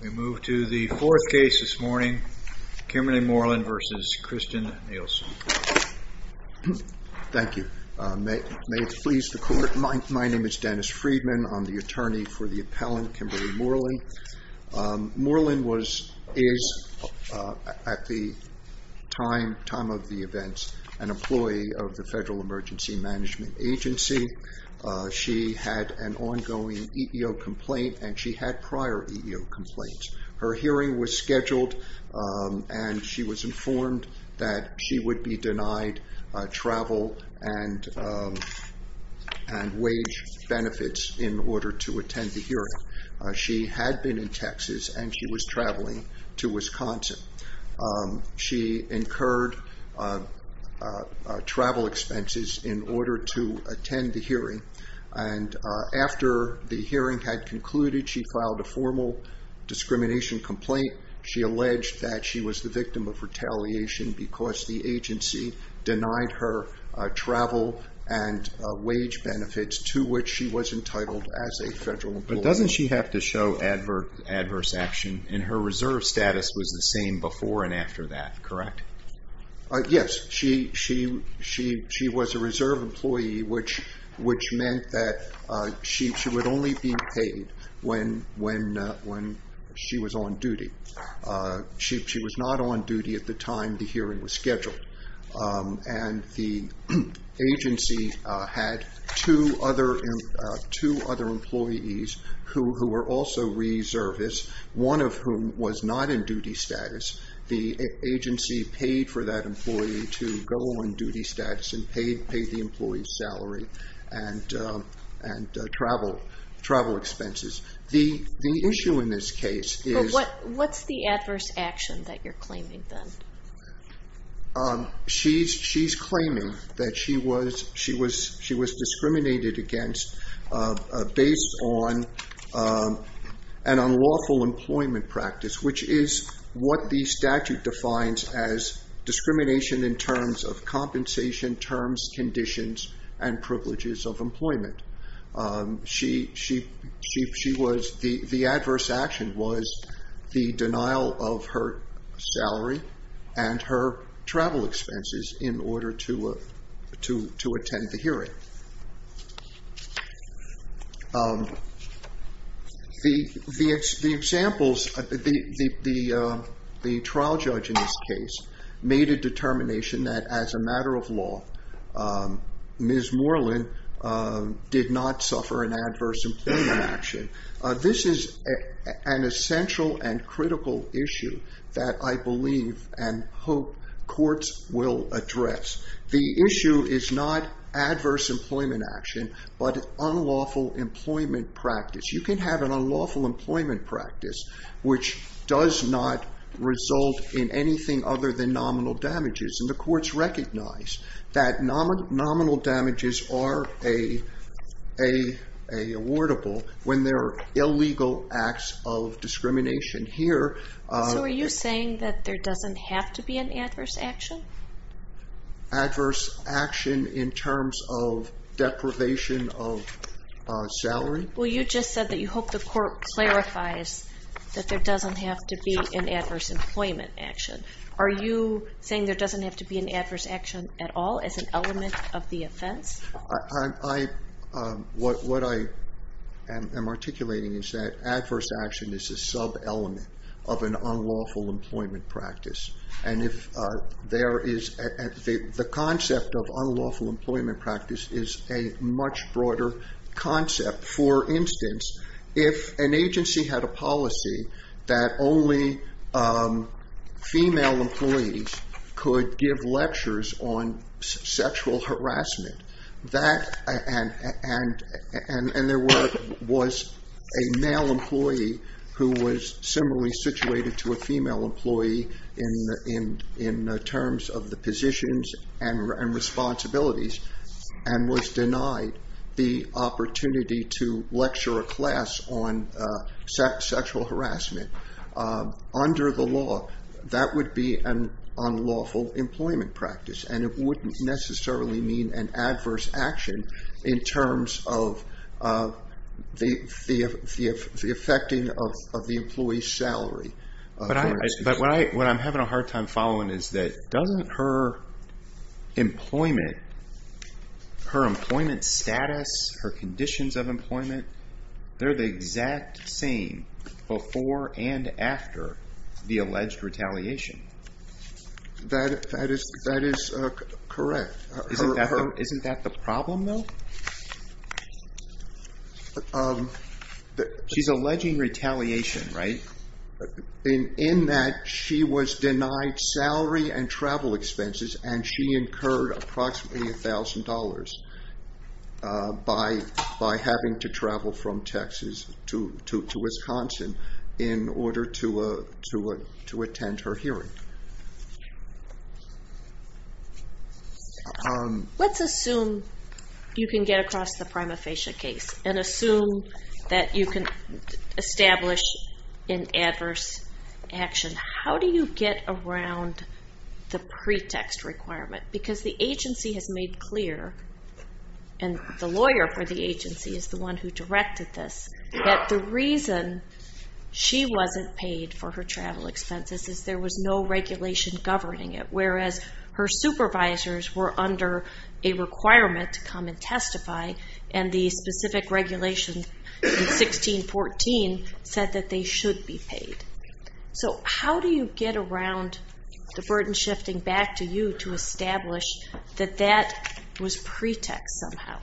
We move to the fourth case this morning, Kimberly Moreland v. Kirstjen Nielsen. Thank you. May it please the court, my name is Dennis Friedman, I'm the attorney for the appellant Kimberly Moreland. Moreland is, at the time of the event, an employee of the Federal Emergency Management Agency. She had an ongoing EEO complaint and she had prior EEO complaints. Her hearing was scheduled and she was informed that she would be denied travel and wage benefits in order to attend the hearing. She had been in Texas and she was traveling to Wisconsin. She incurred travel expenses in order to attend the hearing. After the hearing had concluded, she filed a formal discrimination complaint. She alleged that she was the victim of retaliation because the agency denied her travel and wage benefits, to which she was entitled as a federal employee. Doesn't she have to show adverse action and her reserve status was the same before and after that, correct? Yes, she was a reserve employee, which meant that she would only be paid when she was on duty. She was not on duty at the time the hearing was scheduled. The agency had two other employees who were also reservists, one of whom was not in duty status. The agency paid for that employee to go on duty status and paid the employee's salary and travel expenses. What's the adverse action that you're claiming? She's claiming that she was discriminated against based on an unlawful employment practice, which is what the statute defines as discrimination in terms of compensation terms, conditions, and privileges of employment. The adverse action was the denial of her salary and her travel expenses in order to attend the hearing. The trial judge in this case made a determination that as a matter of law, Ms. Moreland did not suffer an adverse employment action. This is an essential and critical issue that I believe and hope courts will address. The issue is not adverse employment action, but unlawful employment practice. You can have an unlawful employment practice which does not result in anything other than nominal damages. The courts recognize that nominal damages are awardable when there are illegal acts of discrimination. Are you saying that there doesn't have to be an adverse action? Adverse action in terms of deprivation of salary. You just said that you hope the court clarifies that there doesn't have to be an adverse employment action. Are you saying there doesn't have to be an adverse action at all as an element of the offense? What I am articulating is that adverse action is a sub-element of an unlawful employment practice. The concept of unlawful employment practice is a much broader concept. For instance, if an agency had a policy that only female employees could give lectures on sexual harassment, and there was a male employee who was similarly situated to a female employee in terms of the positions and responsibilities, and was denied the opportunity to lecture a class on sexual harassment under the law, that would be an unlawful employment practice. It wouldn't necessarily mean an adverse action in terms of the effecting of the employee's salary. What I'm having a hard time following is that doesn't her employment status, her conditions of employment, they're the exact same before and after the alleged retaliation? That is correct. Isn't that the problem though? She's alleging retaliation, right? In that she was denied salary and travel expenses, and she incurred approximately $1,000 by having to travel from Texas to Wisconsin in order to attend her hearing. Let's assume you can get across the prima facie case, and assume that you can establish an adverse action. How do you get around the pretext requirement? Because the agency has made clear, and the lawyer for the agency is the one who directed this, that the reason she wasn't paid for her travel expenses is there was no regulation governing it, whereas her supervisors were under a requirement to come and testify, and the specific regulation in 1614 said that they should be paid. So how do you get around the burden shifting back to you to establish that that was pretext somehow?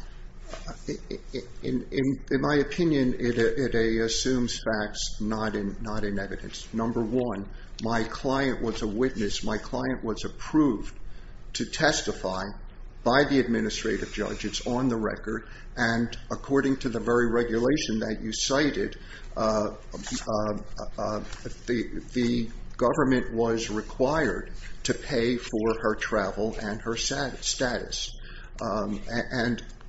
In my opinion, it assumes facts, not in evidence. Number one, my client was a witness. My client was approved to testify by the administrative judge. It's on the record, and according to the very regulation that you cited, the government was required to pay for her travel and her status.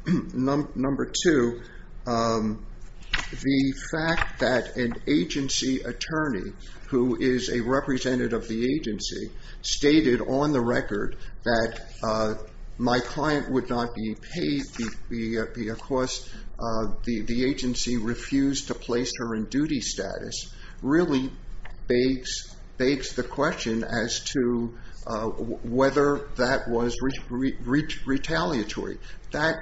Number two, the fact that an agency attorney, who is a representative of the agency, stated on the record that my client would not be paid because the agency refused to place her in duty status, really begs the question as to whether that was retaliatory. That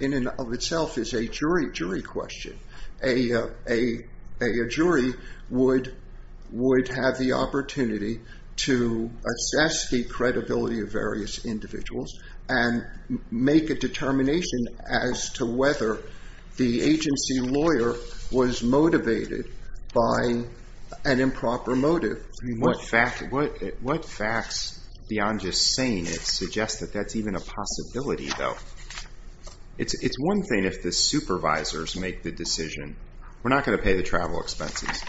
in and of itself is a jury question. A jury would have the opportunity to assess the credibility of various individuals and make a determination as to whether the agency lawyer was motivated by an improper motive. What facts, beyond just saying it, suggest that that's even a possibility, though? It's one thing if the supervisors make the decision, we're not going to pay the travel expenses,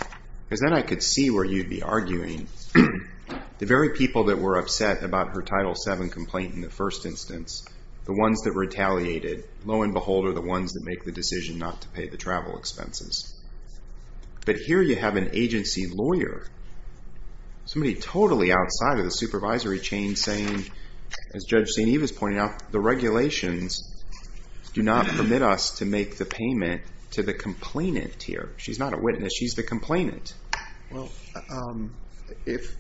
because then I could see where you'd be arguing. The very people that were upset about her Title VII complaint in the first instance, the ones that retaliated, lo and behold, are the ones that make the decision not to pay the travel expenses. But here you have an agency lawyer, somebody totally outside of the supervisory chain, saying, as Judge St. Eve is pointing out, the regulations do not permit us to make the payment to the complainant here. She's not a witness, she's the complainant. If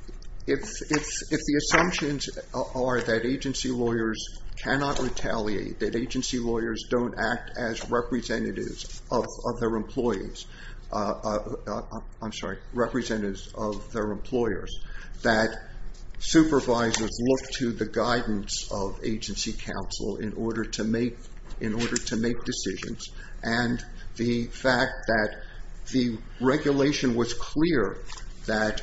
the assumptions are that agency lawyers cannot retaliate, that agency lawyers don't act as representatives of their employees, I'm sorry, representatives of their employers, that supervisors look to the guidance of agency counsel in order to make decisions, and the fact that the regulation was clear that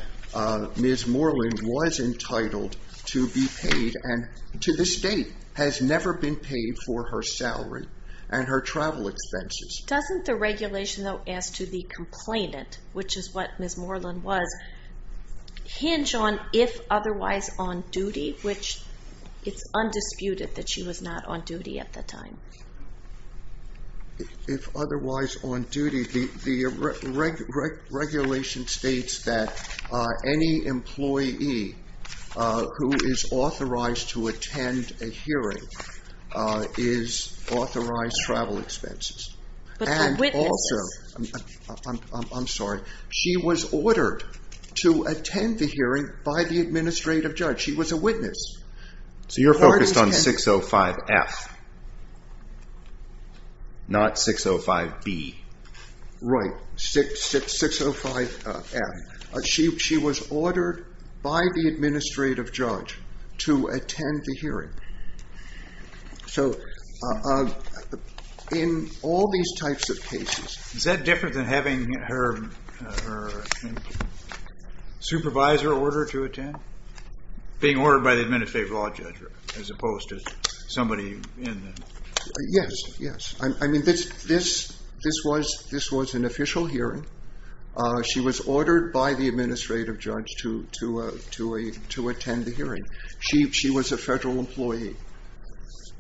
Ms. Moreland was entitled to be paid, and to this date has never been paid for her salary and her travel expenses. Doesn't the regulation, though, as to the complainant, which is what Ms. Moreland was, hinge on if otherwise on duty, which it's undisputed that she was not on duty at the time? If otherwise on duty. The regulation states that any employee who is authorized to attend a hearing is authorized travel expenses. But the witness. I'm sorry. She was ordered to attend the hearing by the administrative judge. She was a witness. So you're focused on 605F, not 605B. Right, 605F. She was ordered by the administrative judge to attend the hearing. So in all these types of cases. Is that different than having her supervisor order her to attend? Being ordered by the administrative law judge as opposed to somebody in the. Yes, yes. I mean, this was an official hearing. She was ordered by the administrative judge to attend the hearing. She was a federal employee.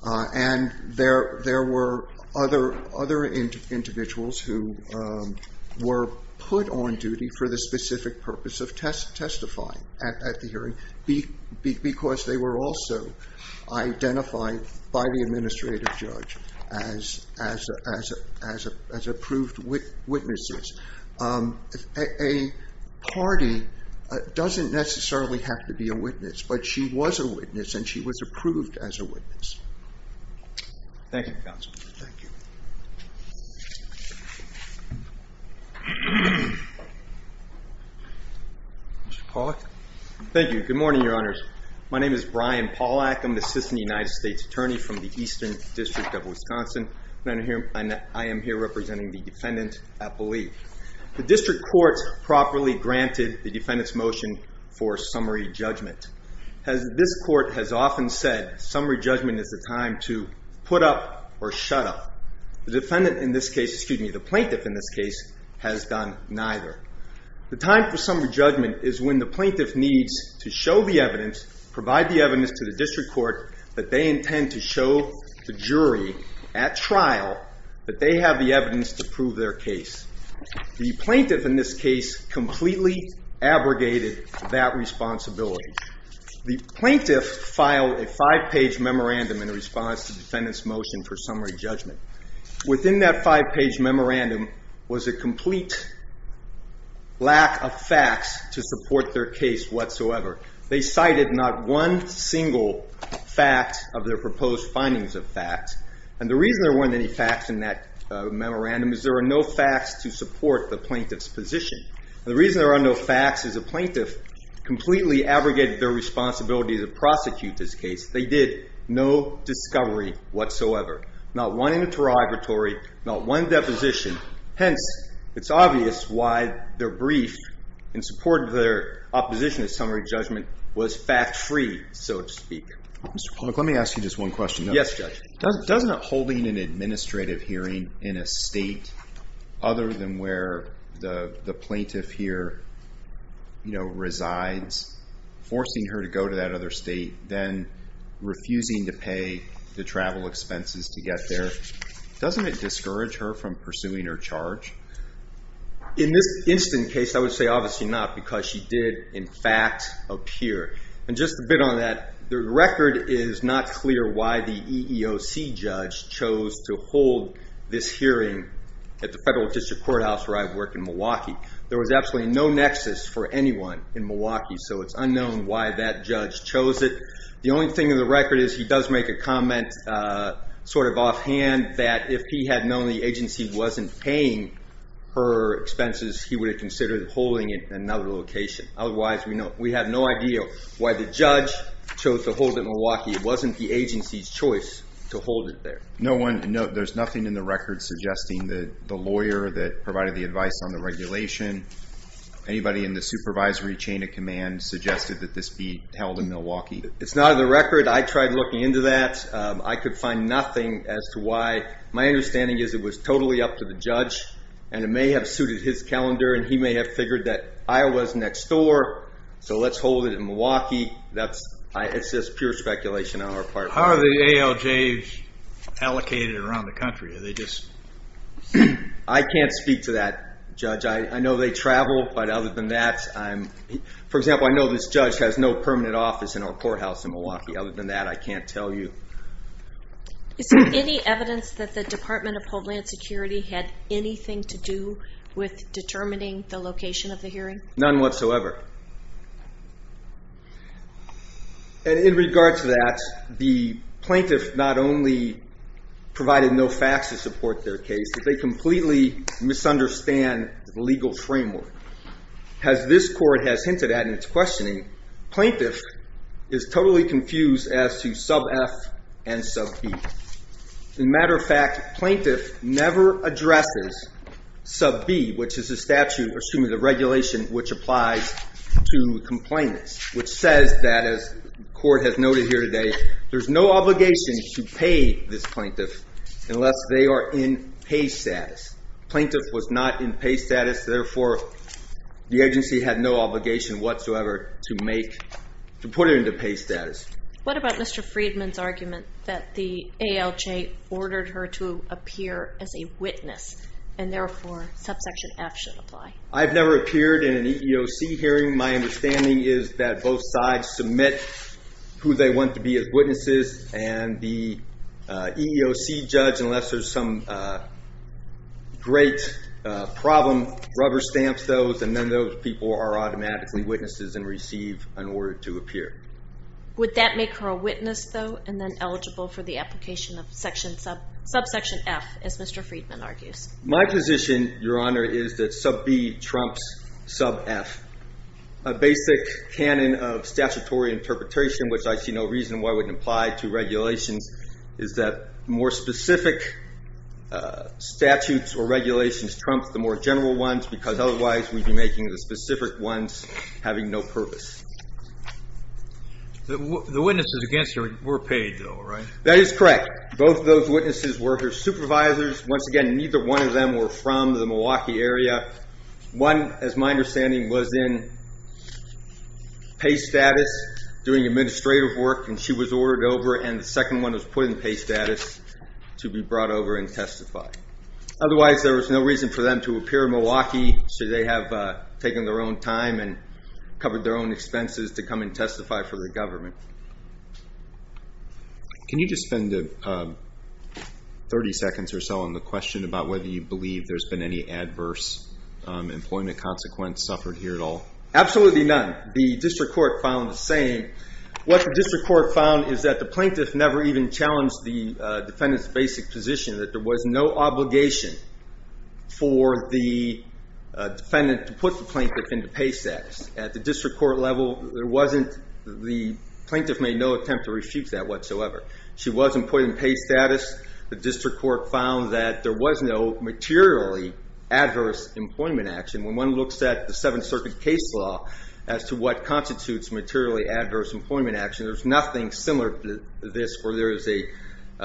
And there were other individuals who were put on duty for the specific purpose of testifying at the hearing. Because they were also identified by the administrative judge as approved witnesses. A party doesn't necessarily have to be a witness. But she was a witness and she was approved as a witness. Thank you, counsel. Thank you. Mr. Pollack. Thank you. Good morning, your honors. My name is Brian Pollack. I'm the assistant United States attorney from the Eastern District of Wisconsin. And I am here representing the defendant, I believe. The district courts properly granted the defendant's motion for summary judgment. As this court has often said, summary judgment is the time to put up or shut up. The defendant in this case, excuse me, the plaintiff in this case has done neither. The time for summary judgment is when the plaintiff needs to show the evidence. Provide the evidence to the district court that they intend to show the jury at trial that they have the evidence to prove their case. The plaintiff in this case completely abrogated that responsibility. The plaintiff filed a five-page memorandum in response to the defendant's motion for summary judgment. Within that five-page memorandum was a complete lack of facts to support their case whatsoever. They cited not one single fact of their proposed findings of facts. And the reason there weren't any facts in that memorandum is there were no facts to support the plaintiff's position. The reason there are no facts is the plaintiff completely abrogated their responsibility to prosecute this case. They did no discovery whatsoever. Not one interrogatory, not one deposition. Hence, it's obvious why their brief in support of their opposition to summary judgment was fact-free, so to speak. Mr. Pollock, let me ask you just one question. Yes, Judge. Doesn't holding an administrative hearing in a state other than where the plaintiff here resides, forcing her to go to that other state, then refusing to pay the travel expenses to get there, doesn't it discourage her from pursuing her charge? In this instant case, I would say obviously not because she did, in fact, appear. And just a bit on that, the record is not clear why the EEOC judge chose to hold this hearing at the federal district courthouse where I work in Milwaukee. There was absolutely no nexus for anyone in Milwaukee, so it's unknown why that judge chose it. The only thing in the record is he does make a comment sort of offhand that if he had known the agency wasn't paying her expenses, he would have considered holding it in another location. Otherwise, we have no idea why the judge chose to hold it in Milwaukee. It wasn't the agency's choice to hold it there. There's nothing in the record suggesting that the lawyer that provided the advice on the regulation, anybody in the supervisory chain of command suggested that this be held in Milwaukee. It's not in the record. I tried looking into that. I could find nothing as to why. My understanding is it was totally up to the judge, and it may have suited his calendar, and he may have figured that Iowa's next door, so let's hold it in Milwaukee. It's just pure speculation on our part. How are the ALJs allocated around the country? I can't speak to that, Judge. I know they travel, but other than that, for example, I know this judge has no permanent office in our courthouse in Milwaukee. Other than that, I can't tell you. Is there any evidence that the Department of Homeland Security had anything to do with determining the location of the hearing? None whatsoever. And in regard to that, the plaintiff not only provided no facts to support their case, but they completely misunderstand the legal framework. As this court has hinted at in its questioning, plaintiff is totally confused as to sub F and sub B. As a matter of fact, plaintiff never addresses sub B, which is the statute, or excuse me, the regulation, which applies to complainants, which says that, as the court has noted here today, there's no obligation to pay this plaintiff unless they are in pay status. Plaintiff was not in pay status. Therefore, the agency had no obligation whatsoever to make, to put it into pay status. What about Mr. Friedman's argument that the ALJ ordered her to appear as a witness, and therefore subsection F should apply? I've never appeared in an EEOC hearing. My understanding is that both sides submit who they want to be as witnesses, and the EEOC judge, unless there's some great problem, rubber stamps those, and then those people are automatically witnesses and receive an order to appear. Would that make her a witness, though, and then eligible for the application of subsection F, as Mr. Friedman argues? My position, Your Honor, is that sub B trumps sub F. A basic canon of statutory interpretation, which I see no reason why wouldn't apply to regulations, is that more specific statutes or regulations trump the more general ones, because otherwise we'd be making the specific ones having no purpose. The witnesses against her were paid, though, right? That is correct. Both of those witnesses were her supervisors. Once again, neither one of them were from the Milwaukee area. One, as my understanding, was in pay status doing administrative work, and she was ordered over, and the second one was put in pay status to be brought over and testified. Otherwise, there was no reason for them to appear in Milwaukee, should they have taken their own time and covered their own expenses to come and testify for the government. Can you just spend 30 seconds or so on the question about whether you believe there's been any adverse employment consequence suffered here at all? Absolutely none. The district court found the same. What the district court found is that the plaintiff never even challenged the defendant's basic position, that there was no obligation for the defendant to put the plaintiff into pay status. At the district court level, the plaintiff made no attempt to refute that whatsoever. She was employed in pay status. The district court found that there was no materially adverse employment action. When one looks at the Seventh Circuit case law as to what constitutes materially adverse employment action, there's nothing similar to this where there is a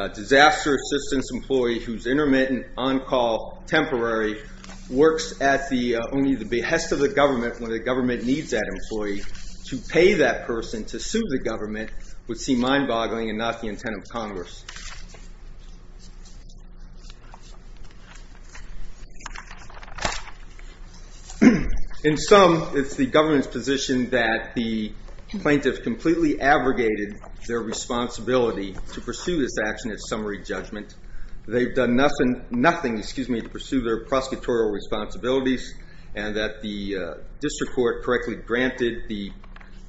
disaster assistance employee who's intermittent, on-call, temporary, works at only the behest of the government when the government needs that employee. To pay that person to sue the government would seem mind-boggling and not the intent of Congress. In sum, it's the government's position that the plaintiff completely abrogated their responsibility to pursue this action at summary judgment. They've done nothing to pursue their prosecutorial responsibilities and that the district court correctly granted the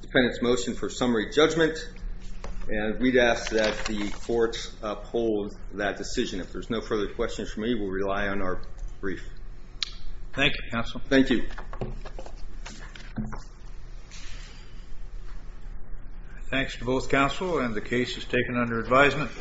defendant's motion for summary judgment. We'd ask that the courts uphold that decision. If there's no further questions from me, we'll rely on our brief. Thank you, counsel. Thank you. Thanks to both counsel and the case is taken under advisement.